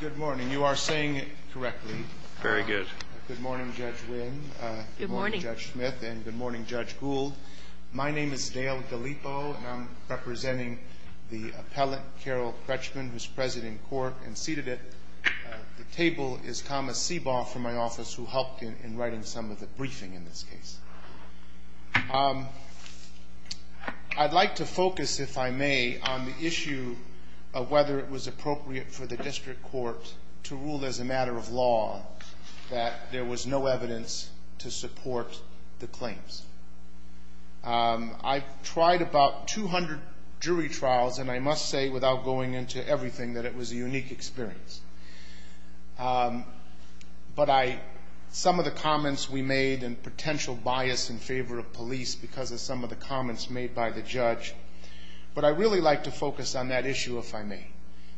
Good morning. You are saying it correctly. Very good. Good morning, Judge Wynn. Good morning, Judge Smith, and good morning, Judge Gould. My name is Dale Gallipo, and I'm representing the appellant, Carole Krechman, who's president in court and seated at the table is Thomas Seaborne from my office, who helped in writing some of the briefing in this case. I'd like to focus, if I may, on the issue of whether it was appropriate for the district court to rule as a matter of law that there was no evidence to support the claims. I've tried about 200 jury trials, and I must say, without going into everything, that it was a unique experience. But some of the comments we made and potential bias in favor of police because of some of the comments made by the judge. But I'd really like to focus on that issue, if I may,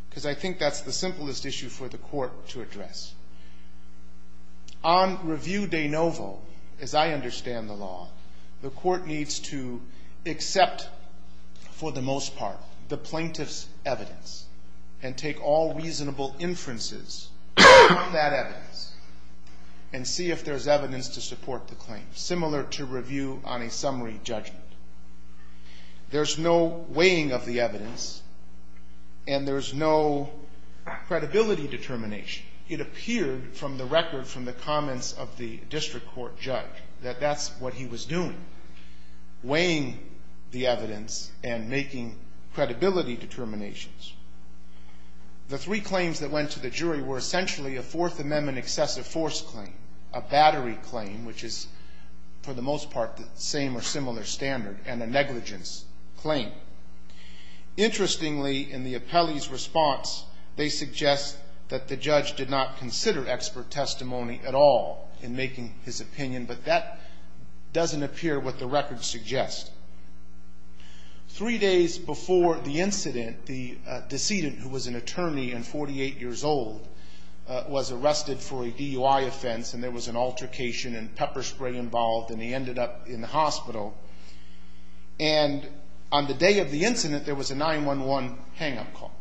because I think that's the simplest issue for the court to address. On review de novo, as I understand the law, the court needs to accept, for the most part, the plaintiff's evidence and take all reasonable inferences from that evidence and see if there's evidence to support the claim, similar to review on a summary judgment. There's no weighing of the evidence, and there's no credibility determination. It appeared from the record, from the comments of the district court judge, that that's what he was doing, weighing the evidence and making credibility determinations. The three claims that went to the jury were essentially a Fourth Amendment excessive force claim, a battery claim, which is, for the most part, the same or similar standard. And a negligence claim. Interestingly, in the appellee's response, they suggest that the judge did not consider expert testimony at all in making his opinion. But that doesn't appear what the record suggests. Three days before the incident, the decedent, who was an attorney and 48 years old, was arrested for a DUI offense. And there was an altercation and pepper spray involved, and he ended up in the hospital. And on the day of the incident, there was a 911 hang-up call.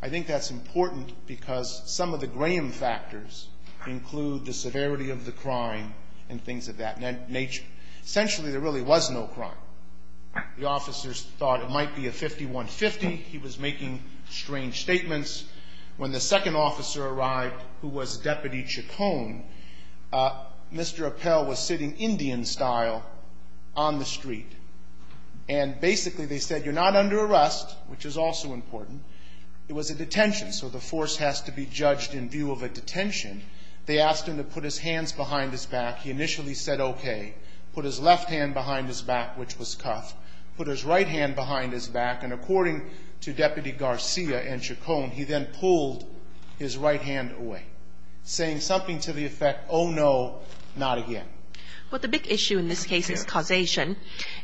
I think that's important because some of the Graham factors include the severity of the crime and things of that nature. Essentially, there really was no crime. The officers thought it might be a 51-50. He was making strange statements. When the second officer arrived, who was Deputy Chacon, Mr. Appell was sitting Indian-style on the street. And basically, they said, you're not under arrest, which is also important. It was a detention, so the force has to be judged in view of a detention. They asked him to put his hands behind his back. He initially said okay. Put his left hand behind his back, which was cuffed. Put his right hand behind his back. And according to Deputy Garcia and Chacon, he then pulled his right hand away, saying something to the effect, oh, no, not again. Well, the big issue in this case is causation.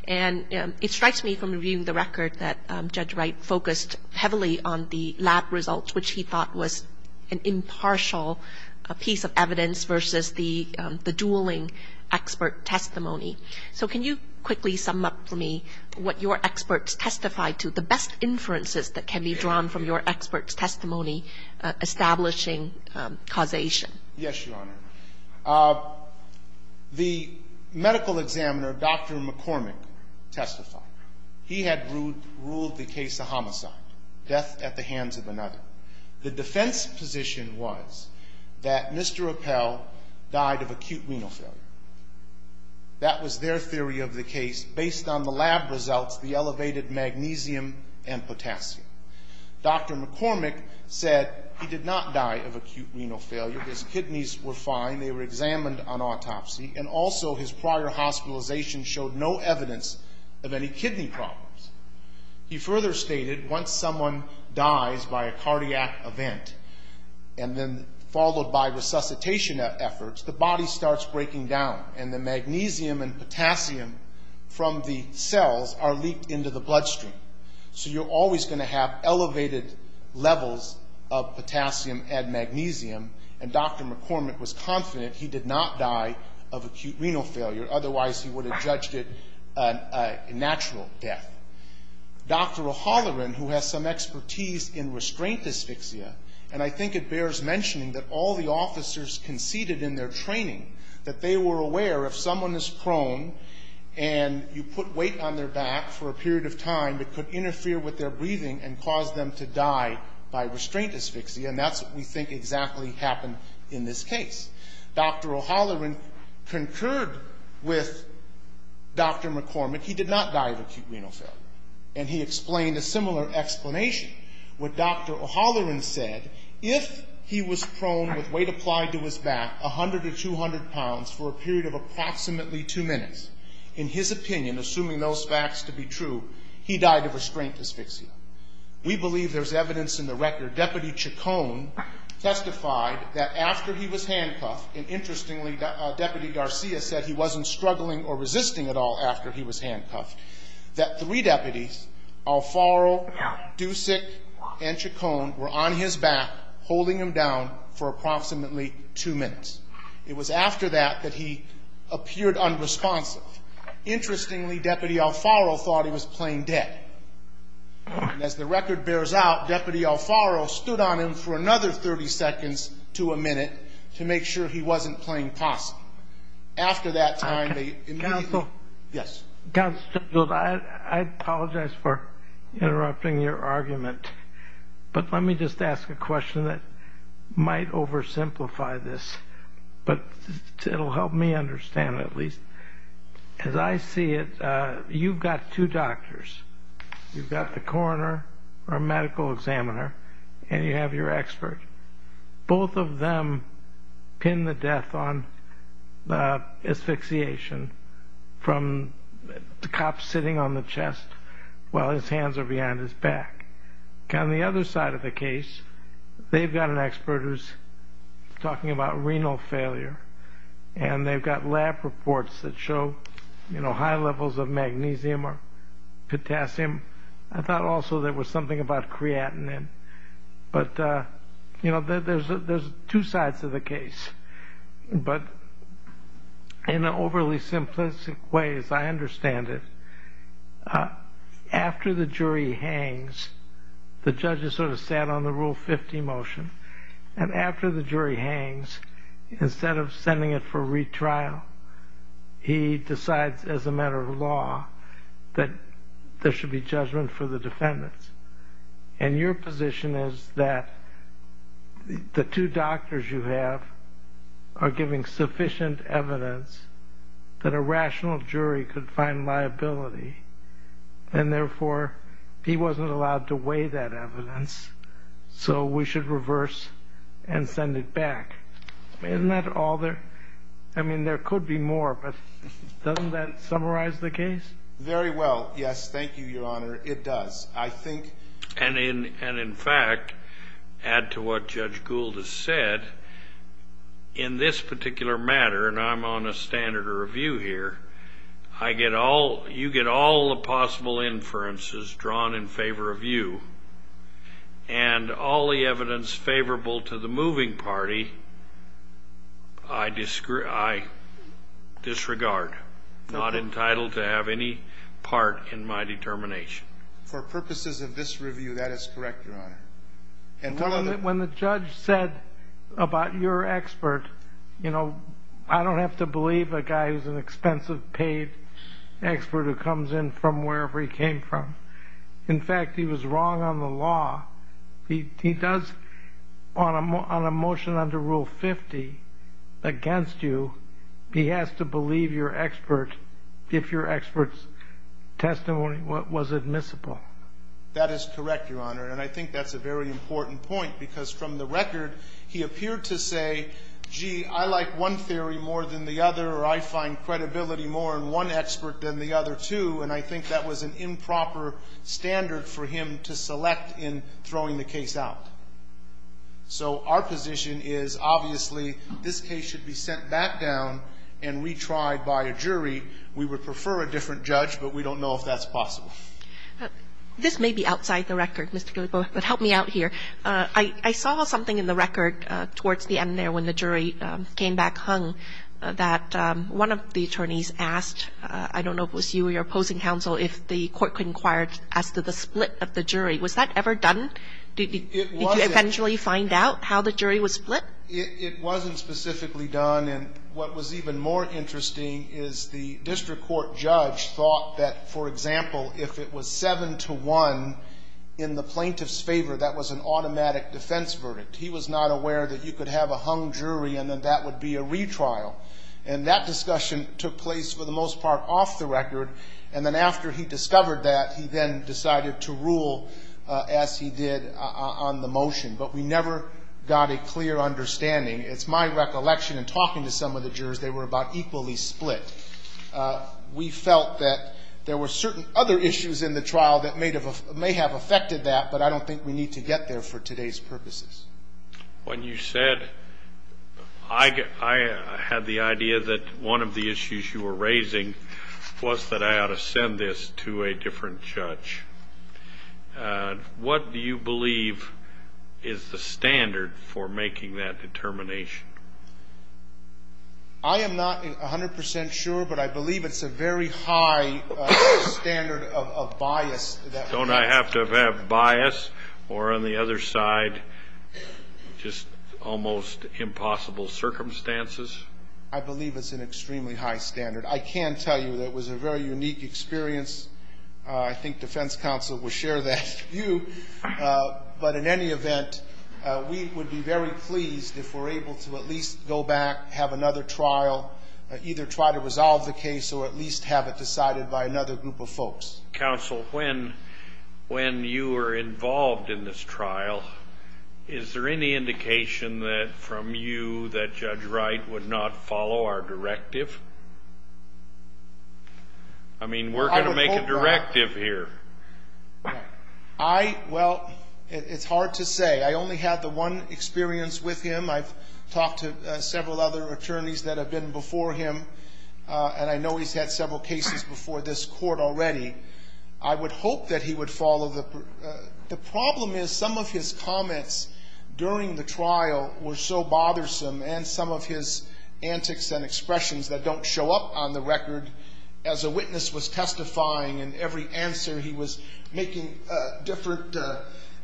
And it strikes me from reviewing the record that Judge Wright focused heavily on the lab results, which he thought was an impartial piece of evidence versus the dueling expert testimony. So can you quickly sum up for me what your experts testified to, the best inferences that can be drawn from your experts' testimony establishing causation? Yes, Your Honor. The medical examiner, Dr. McCormick, testified. He had ruled the case a homicide, death at the hands of another. The defense position was that Mr. Appell died of acute renal failure. That was their theory of the case based on the lab results, the elevated magnesium and potassium. Dr. McCormick said he did not die of acute renal failure. His kidneys were fine. They were examined on autopsy. And also his prior hospitalization showed no evidence of any kidney problems. He further stated once someone dies by a cardiac event and then followed by resuscitation efforts, the body starts breaking down, and the magnesium and potassium from the cells are leaked into the bloodstream. So you're always going to have elevated levels of potassium and magnesium. And Dr. McCormick was confident he did not die of acute renal failure. Otherwise, he would have judged it a natural death. Dr. O'Halloran, who has some expertise in restraint dysfixia, and I think it bears mentioning that all the officers conceded in their training that they were aware if someone is prone and you put weight on their back for a period of time, it could interfere with their breathing and cause them to die by restraint dysfixia. And that's what we think exactly happened in this case. Dr. O'Halloran concurred with Dr. McCormick. He did not die of acute renal failure. And he explained a similar explanation. What Dr. O'Halloran said, if he was prone with weight applied to his back, 100 or 200 pounds, for a period of approximately two minutes, in his opinion, assuming those facts to be true, he died of restraint dysfixia. We believe there's evidence in the record, Deputy Chacon testified that after he was handcuffed, and interestingly, Deputy Garcia said he wasn't struggling or resisting at all after he was handcuffed, that three deputies, Alfaro, Dusik, and Chacon were on his back holding him down for approximately two minutes. It was after that that he appeared unresponsive. Interestingly, Deputy Alfaro thought he was playing dead. And as the record bears out, Deputy Alfaro stood on him for another 30 seconds to a minute to make sure he wasn't playing possum. After that time, they immediately ---- I apologize for interrupting your argument, but let me just ask a question that might oversimplify this, but it'll help me understand it at least. As I see it, you've got two doctors. You've got the coroner or medical examiner, and you have your expert. Both of them pin the death on asphyxiation from the cop sitting on the chest while his hands are behind his back. On the other side of the case, they've got an expert who's talking about renal failure, and they've got lab reports that show high levels of magnesium or potassium. I thought also there was something about creatinine. But, you know, there's two sides of the case. But in an overly simplistic way, as I understand it, after the jury hangs, the judge is sort of sat on the Rule 50 motion. And after the jury hangs, instead of sending it for retrial, he decides as a matter of law that there should be judgment for the defendants. And your position is that the two doctors you have are giving sufficient evidence that a rational jury could find liability, and therefore he wasn't allowed to weigh that evidence, so we should reverse and send it back. Isn't that all there? I mean, there could be more, but doesn't that summarize the case? Very well. Yes, thank you, Your Honor. It does. And in fact, add to what Judge Gould has said, in this particular matter, and I'm on a standard of review here, you get all the possible inferences drawn in favor of you, and all the evidence favorable to the moving party I disregard, not entitled to have any part in my determination. For purposes of this review, that is correct, Your Honor. When the judge said about your expert, you know, I don't have to believe a guy who's an expensive paid expert who comes in from wherever he came from. In fact, he was wrong on the law. He does, on a motion under Rule 50 against you, he has to believe your expert if your expert's testimony was admissible. That is correct, Your Honor, and I think that's a very important point because from the record, he appeared to say, gee, I like one theory more than the other, or I find credibility more in one expert than the other, too, and I think that was an improper standard for him to select in throwing the case out. So our position is, obviously, this case should be sent back down and retried by a jury. We would prefer a different judge, but we don't know if that's possible. This may be outside the record, Mr. Guillebeau, but help me out here. I saw something in the record towards the end there when the jury came back hung, that one of the attorneys asked, I don't know if it was you or your opposing counsel, if the court could inquire as to the split of the jury. Was that ever done? It wasn't. Did you eventually find out how the jury was split? It wasn't specifically done, and what was even more interesting is the district court judge thought that, for example, if it was 7-1 in the plaintiff's favor, that was an automatic defense verdict. He was not aware that you could have a hung jury and then that would be a retrial, and that discussion took place, for the most part, off the record, and then after he discovered that, he then decided to rule as he did on the motion. But we never got a clear understanding. It's my recollection in talking to some of the jurors, they were about equally split. We felt that there were certain other issues in the trial that may have affected that, but I don't think we need to get there for today's purposes. When you said I had the idea that one of the issues you were raising was that I ought to send this to a different judge, what do you believe is the standard for making that determination? I am not 100 percent sure, but I believe it's a very high standard of bias. Don't I have to have bias or, on the other side, just almost impossible circumstances? I believe it's an extremely high standard. I can tell you that it was a very unique experience. I think defense counsel will share that view. But in any event, we would be very pleased if we're able to at least go back, have another trial, either try to resolve the case or at least have it decided by another group of folks. Counsel, when you were involved in this trial, is there any indication from you that Judge Wright would not follow our directive? I mean, we're going to make a directive here. Well, it's hard to say. I only had the one experience with him. I've talked to several other attorneys that have been before him, and I know he's had several cases before this court already. I would hope that he would follow the ---- The problem is some of his comments during the trial were so bothersome, and some of his antics and expressions that don't show up on the record. As a witness was testifying in every answer, he was making different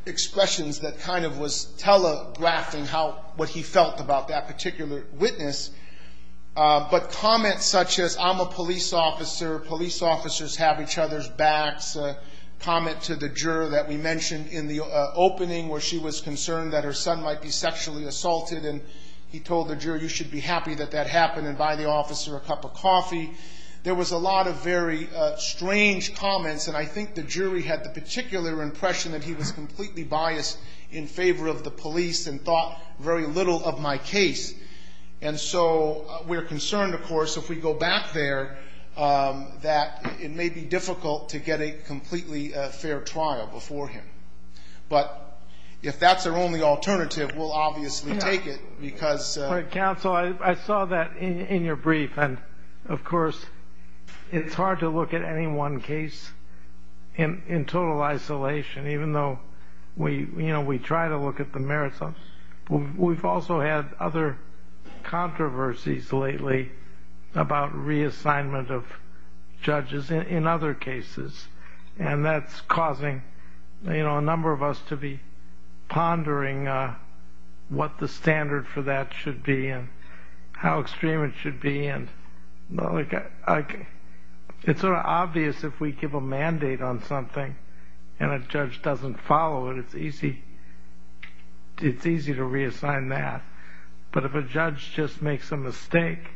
expressions that kind of was telegraphing how ---- what he felt about that particular witness. But comments such as, I'm a police officer, police officers have each other's backs, a comment to the juror that we mentioned in the opening where she was concerned that her son might be sexually assaulted, and he told the juror, you should be happy that that happened, and buy the officer a cup of coffee. There was a lot of very strange comments, and I think the jury had the particular impression that he was completely biased in favor of the police and thought very little of my case. And so we're concerned, of course, if we go back there, that it may be difficult to get a completely fair trial before him. But if that's our only alternative, we'll obviously take it because ---- Counsel, I saw that in your brief, and of course it's hard to look at any one case in total isolation, even though we try to look at the merits of it. We've also had other controversies lately about reassignment of judges in other cases, and that's causing a number of us to be pondering what the standard for that should be and how extreme it should be. It's sort of obvious if we give a mandate on something and a judge doesn't follow it, it's easy to reassign that. But if a judge just makes a mistake,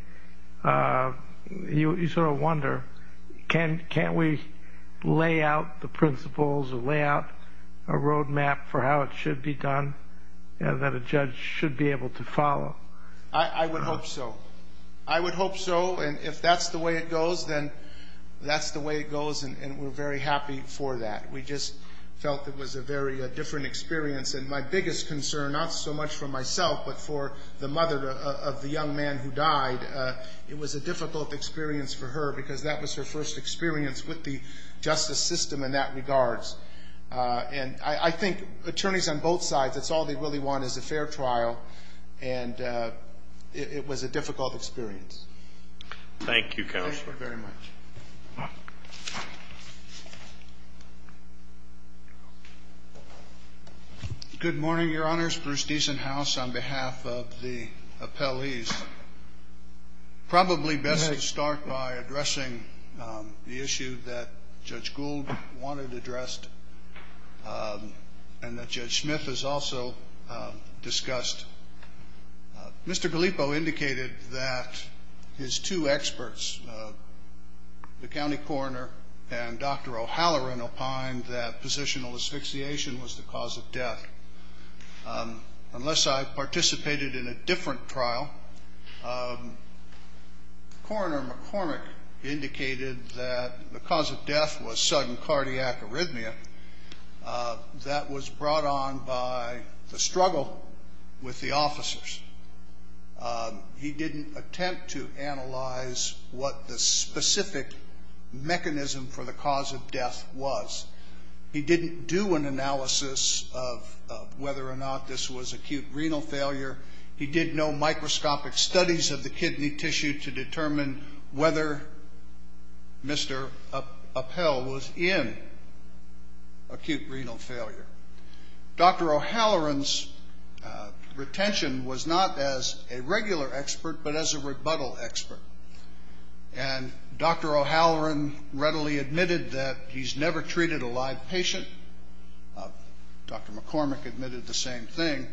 you sort of wonder, can't we lay out the principles or lay out a roadmap for how it should be done and that a judge should be able to follow? I would hope so. I would hope so, and if that's the way it goes, then that's the way it goes, and we're very happy for that. We just felt it was a very different experience, and my biggest concern, not so much for myself but for the mother of the young man who died, it was a difficult experience for her because that was her first experience with the justice system in that regards. And I think attorneys on both sides, that's all they really want is a fair trial, and it was a difficult experience. Thank you, Counselor. Thank you very much. Good morning, Your Honors. Bruce Diesenhaus on behalf of the appellees. Probably best to start by addressing the issue that Judge Gould wanted addressed and that Judge Smith has also discussed. Mr. Gallipo indicated that his two experts, the county coroner and Dr. O'Halloran, opined that positional asphyxiation was the cause of death. Unless I participated in a different trial, Coroner McCormick indicated that the cause of death was sudden cardiac arrhythmia that was brought on by the struggle with the officers. He didn't attempt to analyze what the specific mechanism for the cause of death was. He didn't do an analysis of whether or not this was acute renal failure. He did no microscopic studies of the kidney tissue to determine whether Mr. Appell was in acute renal failure. Dr. O'Halloran's retention was not as a regular expert, but as a rebuttal expert. And Dr. O'Halloran readily admitted that he's never treated a live patient. Dr. McCormick admitted the same thing,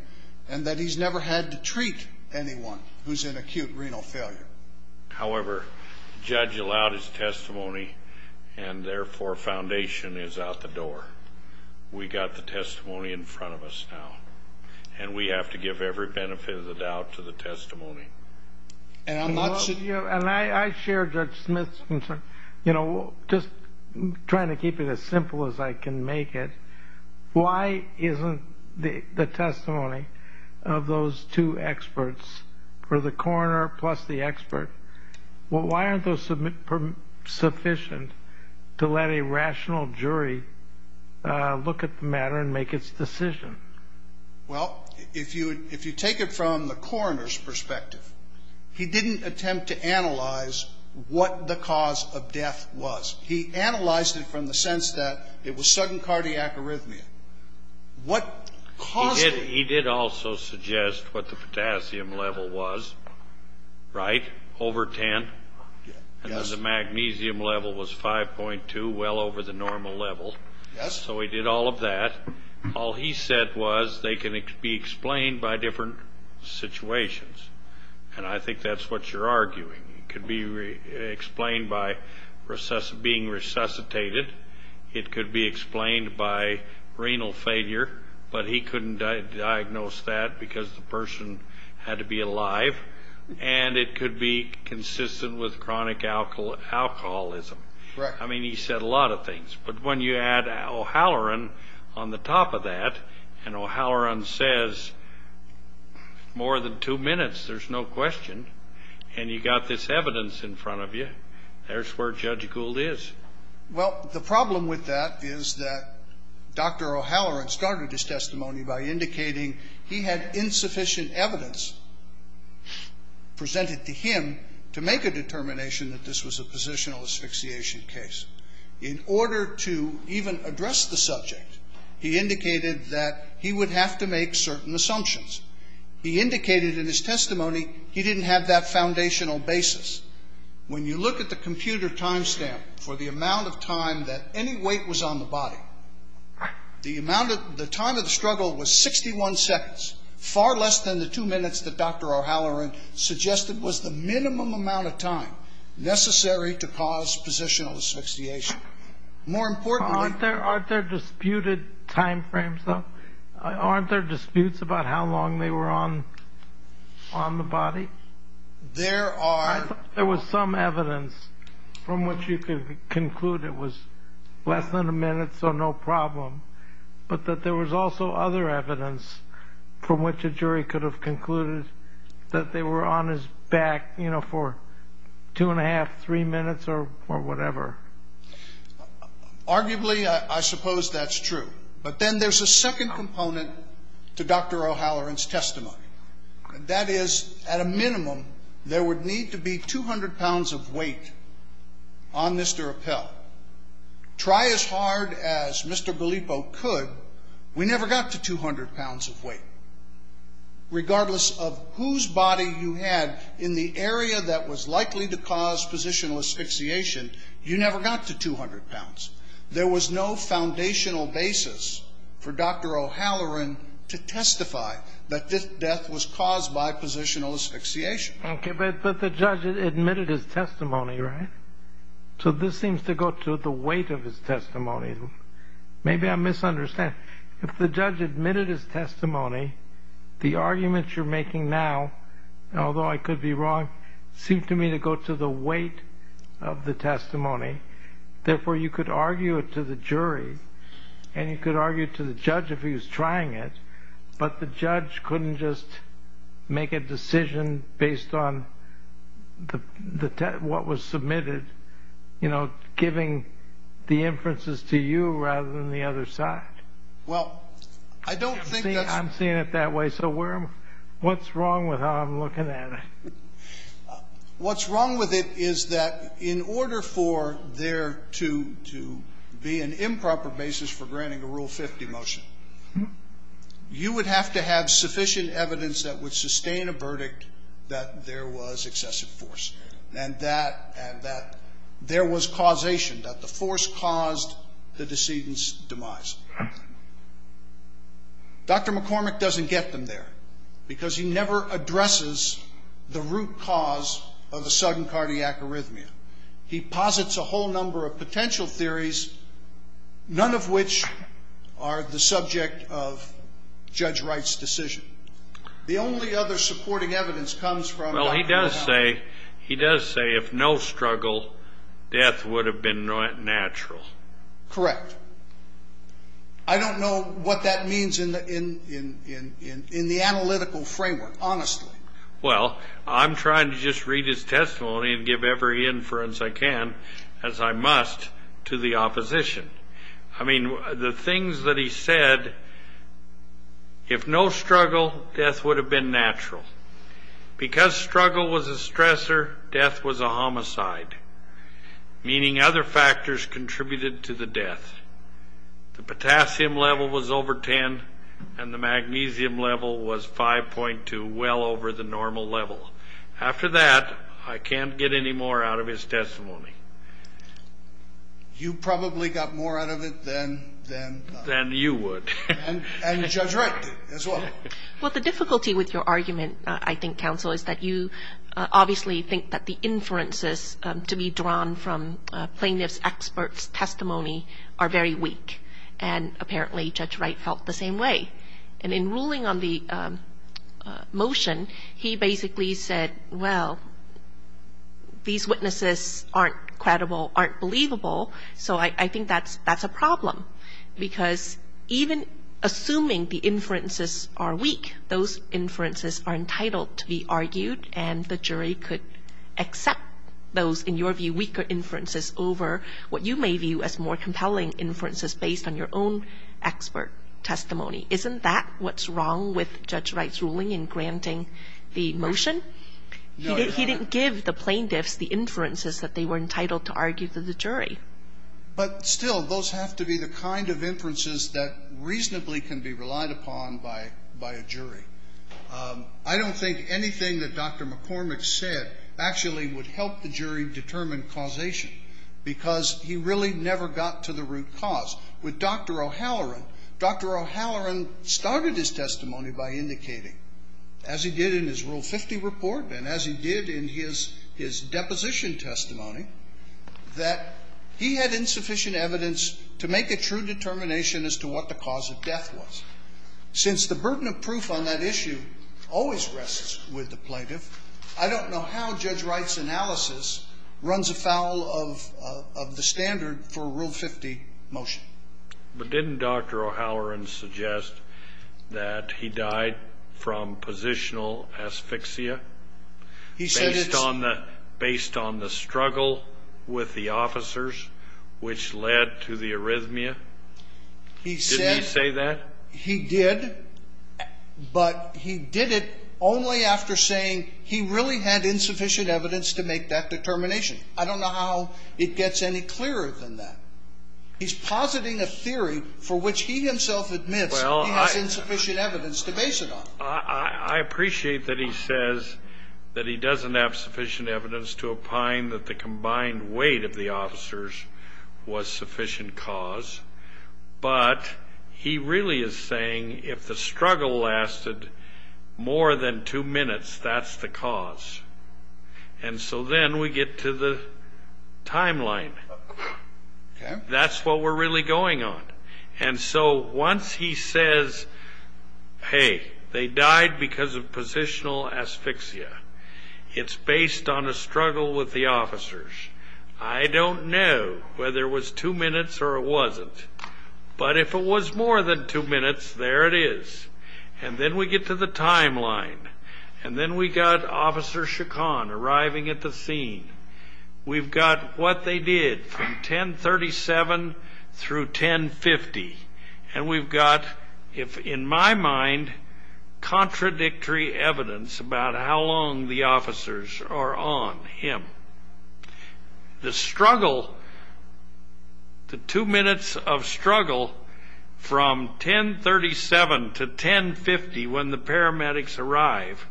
and that he's never had to treat anyone who's in acute renal failure. However, the judge allowed his testimony, and therefore foundation is out the door. We've got the testimony in front of us now, and we have to give every benefit of the doubt to the testimony. And I'm not saying... And I share Judge Smith's concern. You know, just trying to keep it as simple as I can make it, why isn't the testimony of those two experts, for the coroner plus the expert, well, why aren't those sufficient to let a rational jury look at the matter and make its decision? Well, if you take it from the coroner's perspective, he didn't attempt to analyze what the cause of death was. He analyzed it from the sense that it was sudden cardiac arrhythmia. He did also suggest what the potassium level was, right? Over 10, and the magnesium level was 5.2, well over the normal level. So he did all of that. All he said was they can be explained by different situations, and I think that's what you're arguing. It could be explained by being resuscitated. It could be explained by renal failure, but he couldn't diagnose that because the person had to be alive. And it could be consistent with chronic alcoholism. Right. I mean, he said a lot of things. But when you add O'Halloran on the top of that, and O'Halloran says more than two minutes, there's no question, and you've got this evidence in front of you, there's where Judge Gould is. Well, the problem with that is that Dr. O'Halloran started his testimony by indicating he had insufficient evidence presented to him to make a determination that this was a positional asphyxiation case. In order to even address the subject, he indicated that he would have to make certain assumptions. He indicated in his testimony he didn't have that foundational basis. When you look at the computer time stamp for the amount of time that any weight was on the body, the time of the struggle was 61 seconds, far less than the two minutes that Dr. O'Halloran suggested was the minimum amount of time necessary to cause positional asphyxiation. More importantly — Aren't there disputed time frames, though? Aren't there disputes about how long they were on the body? There are. There was some evidence from which you could conclude it was less than a minute, so no problem, but that there was also other evidence from which a jury could have concluded that they were on his back, you know, for two and a half, three minutes or whatever. Arguably, I suppose that's true. But then there's a second component to Dr. O'Halloran's testimony, and that is at a minimum there would need to be 200 pounds of weight on Mr. Appell. Try as hard as Mr. Gallipo could, we never got to 200 pounds of weight. Regardless of whose body you had in the area that was likely to cause positional asphyxiation, you never got to 200 pounds. There was no foundational basis for Dr. O'Halloran to testify that this death was caused by positional asphyxiation. Okay, but the judge admitted his testimony, right? So this seems to go to the weight of his testimony. Maybe I'm misunderstanding. If the judge admitted his testimony, the arguments you're making now, although I could be wrong, seem to me to go to the weight of the testimony. Therefore, you could argue it to the jury and you could argue it to the judge if he was trying it, but the judge couldn't just make a decision based on what was submitted, you know, giving the inferences to you rather than the other side. Well, I don't think that's... I'm seeing it that way. So what's wrong with how I'm looking at it? What's wrong with it is that in order for there to be an improper basis for granting a Rule 50 motion, you would have to have sufficient evidence that would sustain a verdict that there was excessive force and that there was causation, that the force caused the decedent's demise. Dr. McCormick doesn't get them there because he never addresses the root cause of the sudden cardiac arrhythmia. He posits a whole number of potential theories, none of which are the subject of Judge Wright's decision. The only other supporting evidence comes from... Well, he does say if no struggle, death would have been natural. Correct. I don't know what that means in the analytical framework, honestly. Well, I'm trying to just read his testimony and give every inference I can, as I must, to the opposition. I mean, the things that he said, if no struggle, death would have been natural. Because struggle was a stressor, death was a homicide, meaning other factors contributed to the death. The potassium level was over 10, and the magnesium level was 5.2, well over the normal level. After that, I can't get any more out of his testimony. You probably got more out of it than... Than you would. And Judge Wright did as well. Well, the difficulty with your argument, I think, Counsel, is that you obviously think that the inferences to be drawn from plaintiff's expert's testimony are very weak, and apparently Judge Wright felt the same way. And in ruling on the motion, he basically said, well, these witnesses aren't credible, aren't believable, so I think that's a problem, because even assuming the inferences are weak, those inferences are entitled to be argued, and the jury could accept those, in your view, weaker inferences over what you may view as more compelling inferences based on your own expert testimony. Isn't that what's wrong with Judge Wright's ruling in granting the motion? He didn't give the plaintiffs the inferences that they were entitled to argue for the jury. But still, those have to be the kind of inferences that reasonably can be relied upon by a jury. I don't think anything that Dr. McCormick said actually would help the jury determine causation, because he really never got to the root cause. With Dr. O'Halloran, Dr. O'Halloran started his testimony by indicating, as he did in his Rule 50 report and as he did in his deposition testimony, that he had insufficient evidence to make a true determination as to what the cause of death was. Since the burden of proof on that issue always rests with the plaintiff, I don't know how Judge Wright's analysis runs afoul of the standard for a Rule 50 motion. But didn't Dr. O'Halloran suggest that he died from positional asphyxia based on the struggle with the officers which led to the arrhythmia? Didn't he say that? He did, but he did it only after saying he really had insufficient evidence to make that determination. I don't know how it gets any clearer than that. He's positing a theory for which he himself admits he has insufficient evidence to base it on. I appreciate that he says that he doesn't have sufficient evidence to opine that the combined weight of the officers was sufficient cause, but he really is saying if the struggle lasted more than two minutes, that's the cause. And so then we get to the timeline. That's what we're really going on. And so once he says, hey, they died because of positional asphyxia, it's based on a struggle with the officers. I don't know whether it was two minutes or it wasn't. But if it was more than two minutes, there it is. And then we get to the timeline. And then we got Officer Chacon arriving at the scene. We've got what they did from 1037 through 1050. And we've got, in my mind, contradictory evidence about how long the officers are on him. The struggle, the two minutes of struggle from 1037 to 1050 when the paramedics arrive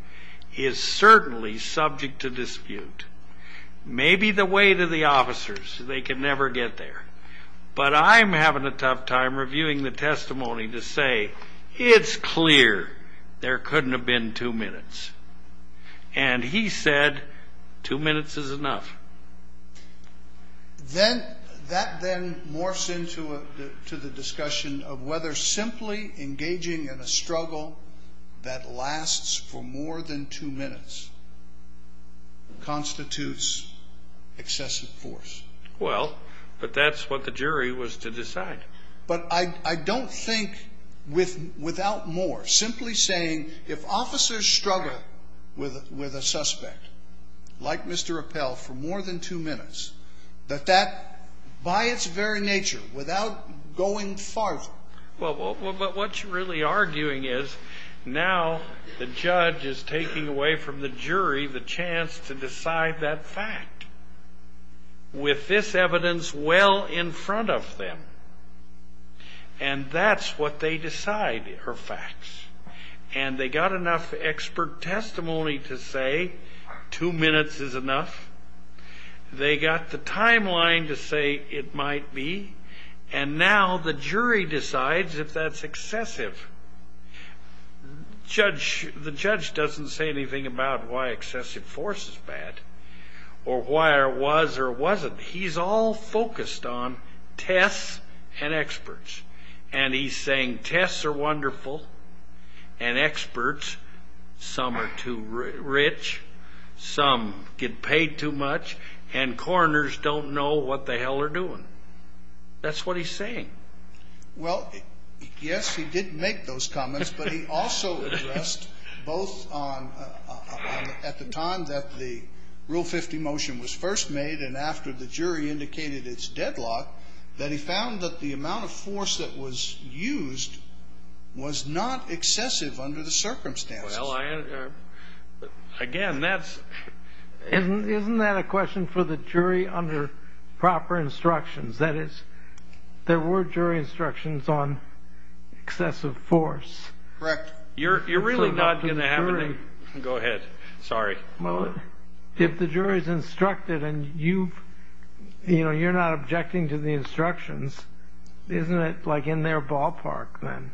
is certainly subject to dispute. Maybe the weight of the officers, they can never get there. But I'm having a tough time reviewing the testimony to say it's clear there couldn't have been two minutes. And he said two minutes is enough. Then that then morphs into the discussion of whether simply engaging in a struggle that lasts for more than two minutes constitutes excessive force. Well, but that's what the jury was to decide. But I don't think without more, simply saying if officers struggle with a suspect like Mr. Appell for more than two minutes, that that by its very nature, without going farther. Well, but what you're really arguing is now the judge is taking away from the jury the chance to decide that fact. With this evidence well in front of them. And that's what they decide are facts. And they got enough expert testimony to say two minutes is enough. They got the timeline to say it might be. And now the jury decides if that's excessive. The judge doesn't say anything about why excessive force is bad or why it was or wasn't. He's all focused on tests and experts. And he's saying tests are wonderful and experts. Some are too rich. Some get paid too much. And coroners don't know what the hell they're doing. That's what he's saying. Well, yes, he did make those comments. But he also addressed both at the time that the Rule 50 motion was first made and after the jury indicated its deadlock that he found that the amount of force that was used was not excessive under the circumstances. Well, again, that's. Isn't that a question for the jury under proper instructions? That is, there were jury instructions on excessive force. Correct. You're really not going to have any. Go ahead. Sorry. Well, if the jury is instructed and you, you know, you're not objecting to the instructions, isn't it like in their ballpark then?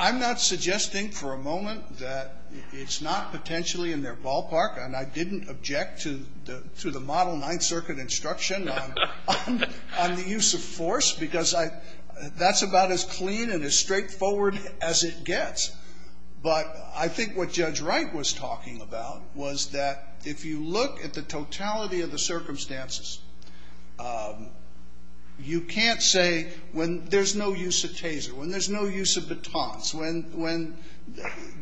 I'm not suggesting for a moment that it's not potentially in their ballpark. And I didn't object to the model Ninth Circuit instruction on the use of force because that's about as clean and as straightforward as it gets. But I think what Judge Wright was talking about was that if you look at the totality of the circumstances, you can't say when there's no use of TASER, when there's no use of batons, when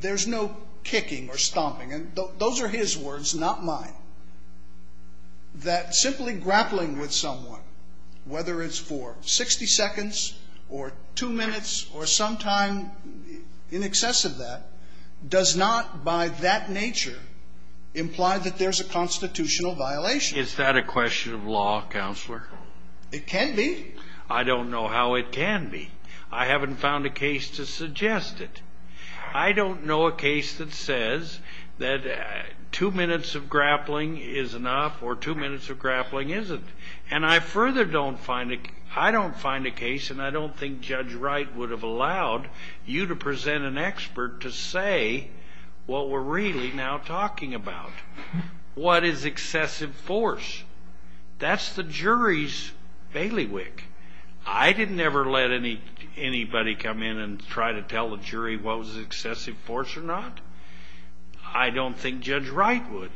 there's no kicking or stomping. And those are his words, not mine. That simply grappling with someone, whether it's for 60 seconds or two minutes or some time in excess of that, does not by that nature imply that there's a constitutional violation. Is that a question of law, Counselor? It can be. I don't know how it can be. I haven't found a case to suggest it. I don't know a case that says that two minutes of grappling is enough or two minutes of grappling isn't. And I further don't find a, I don't find a case, and I don't think Judge Wright would have allowed you to present an expert to say what we're really now talking about. What is excessive force? That's the jury's bailiwick. I didn't ever let anybody come in and try to tell the jury what was excessive force or not. I don't think Judge Wright would.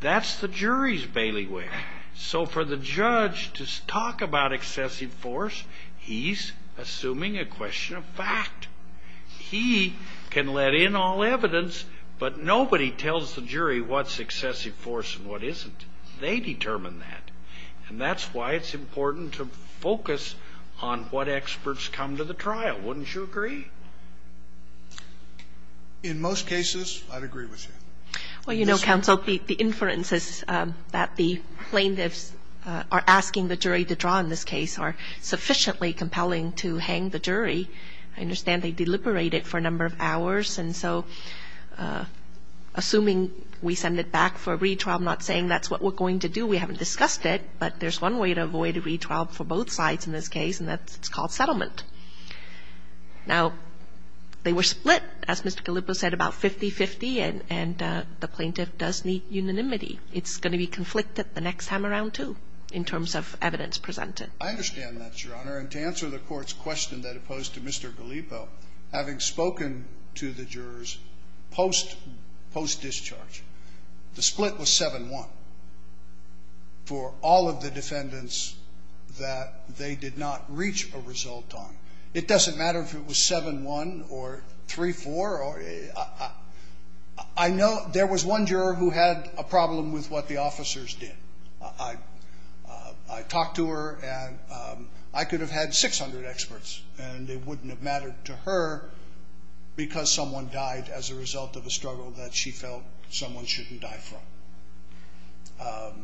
That's the jury's bailiwick. So for the judge to talk about excessive force, he's assuming a question of fact. He can let in all evidence, but nobody tells the jury what's excessive force and what isn't. They determine that. And that's why it's important to focus on what experts come to the trial. Wouldn't you agree? In most cases, I'd agree with you. Well, you know, Counsel, the inferences that the plaintiffs are asking the jury to draw in this case are sufficiently compelling to hang the jury. I understand they deliberate it for a number of hours. And so assuming we send it back for retrial, I'm not saying that's what we're going to do. We haven't discussed it. But there's one way to avoid a retrial for both sides in this case, and that's called settlement. Now, they were split, as Mr. Gallipo said, about 50-50, and the plaintiff does need unanimity. It's going to be conflicted the next time around, too, in terms of evidence presented. I understand that, Your Honor. And to answer the Court's question that it posed to Mr. Gallipo, having spoken to the jurors post-discharge, the split was 7-1 for all of the defendants that they did not reach a result on. It doesn't matter if it was 7-1 or 3-4. I know there was one juror who had a problem with what the officers did. I talked to her, and I could have had 600 experts, and it wouldn't have mattered to her because someone died as a result of a struggle that she felt someone shouldn't die from.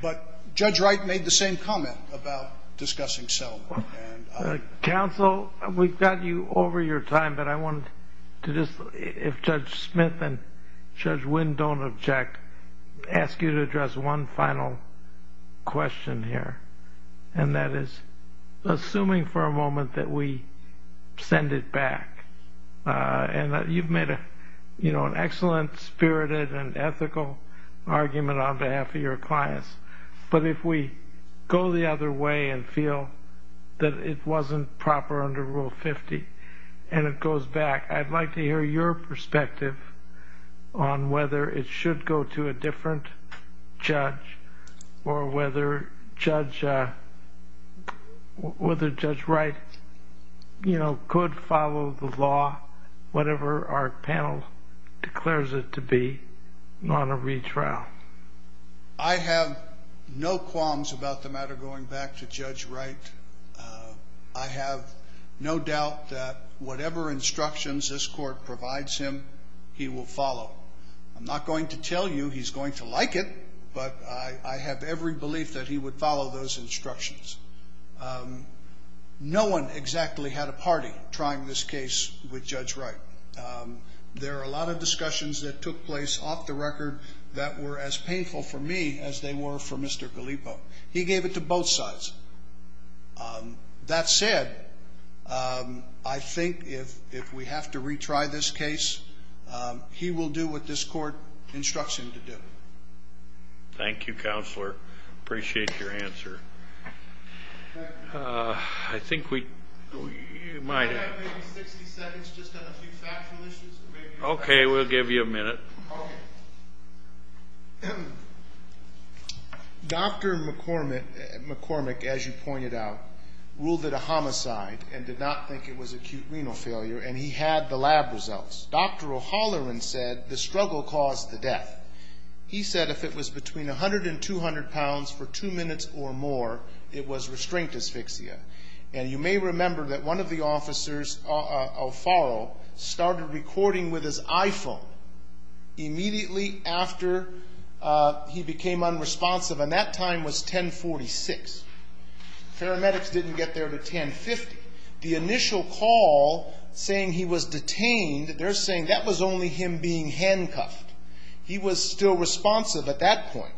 But Judge Wright made the same comment about discussing settlement. Counsel, we've got you over your time, but I wanted to just, if Judge Smith and Judge Wynn don't object, ask you to address one final question here, and that is, assuming for a moment that we send it back, and you've made an excellent, spirited, and ethical argument on behalf of your clients, but if we go the other way and feel that it wasn't proper under Rule 50 and it goes back, I'd like to hear your perspective on whether it should go to a different judge or whether Judge Wright could follow the law, whatever our panel declares it to be, on a retrial. I have no qualms about the matter going back to Judge Wright. I have no doubt that whatever instructions this court provides him, he will follow. I'm not going to tell you he's going to like it, but I have every belief that he would follow those instructions. No one exactly had a party trying this case with Judge Wright. There are a lot of discussions that took place off the record that were as painful for me as they were for Mr. Gallipo. He gave it to both sides. That said, I think if we have to retry this case, he will do what this court instructs him to do. Thank you, Counselor. I appreciate your answer. I think we might have 60 seconds just on a few factual issues. Okay, we'll give you a minute. Okay. Dr. McCormick, as you pointed out, ruled it a homicide and did not think it was acute renal failure, and he had the lab results. Dr. O'Halloran said the struggle caused the death. He said if it was between 100 and 200 pounds for two minutes or more, it was restrained asphyxia. And you may remember that one of the officers, Alfaro, started recording with his iPhone immediately after he became unresponsive, and that time was 1046. Paramedics didn't get there to 1050. The initial call saying he was detained, they're saying that was only him being handcuffed. He was still responsive at that point.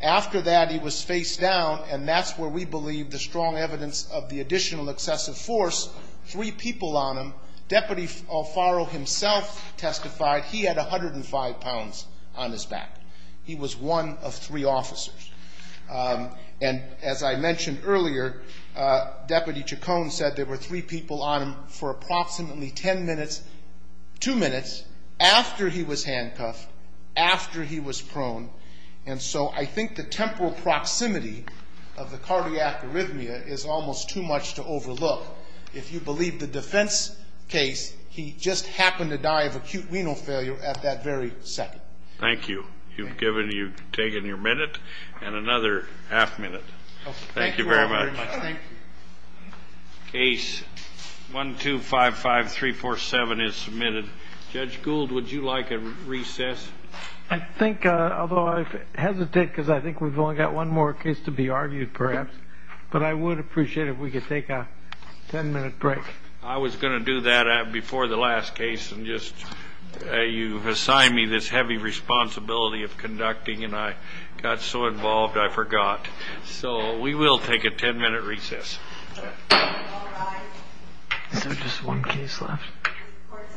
After that, he was facedown, and that's where we believe the strong evidence of the additional excessive force, three people on him. Deputy Alfaro himself testified he had 105 pounds on his back. He was one of three officers. And as I mentioned earlier, Deputy Chacon said there were three people on him for approximately ten minutes, two minutes, after he was handcuffed, after he was prone. And so I think the temporal proximity of the cardiac arrhythmia is almost too much to overlook. If you believe the defense case, he just happened to die of acute renal failure at that very second. Thank you. You've taken your minute and another half minute. Thank you very much. Thank you. Case 1255347 is submitted. Judge Gould, would you like a recess? I think, although I hesitate because I think we've only got one more case to be argued, perhaps, but I would appreciate it if we could take a ten-minute break. I was going to do that before the last case. You assigned me this heavy responsibility of conducting, and I got so involved I forgot. So we will take a ten-minute recess. All rise. Is there just one case left? Court is adjourned on a ten-minute recess.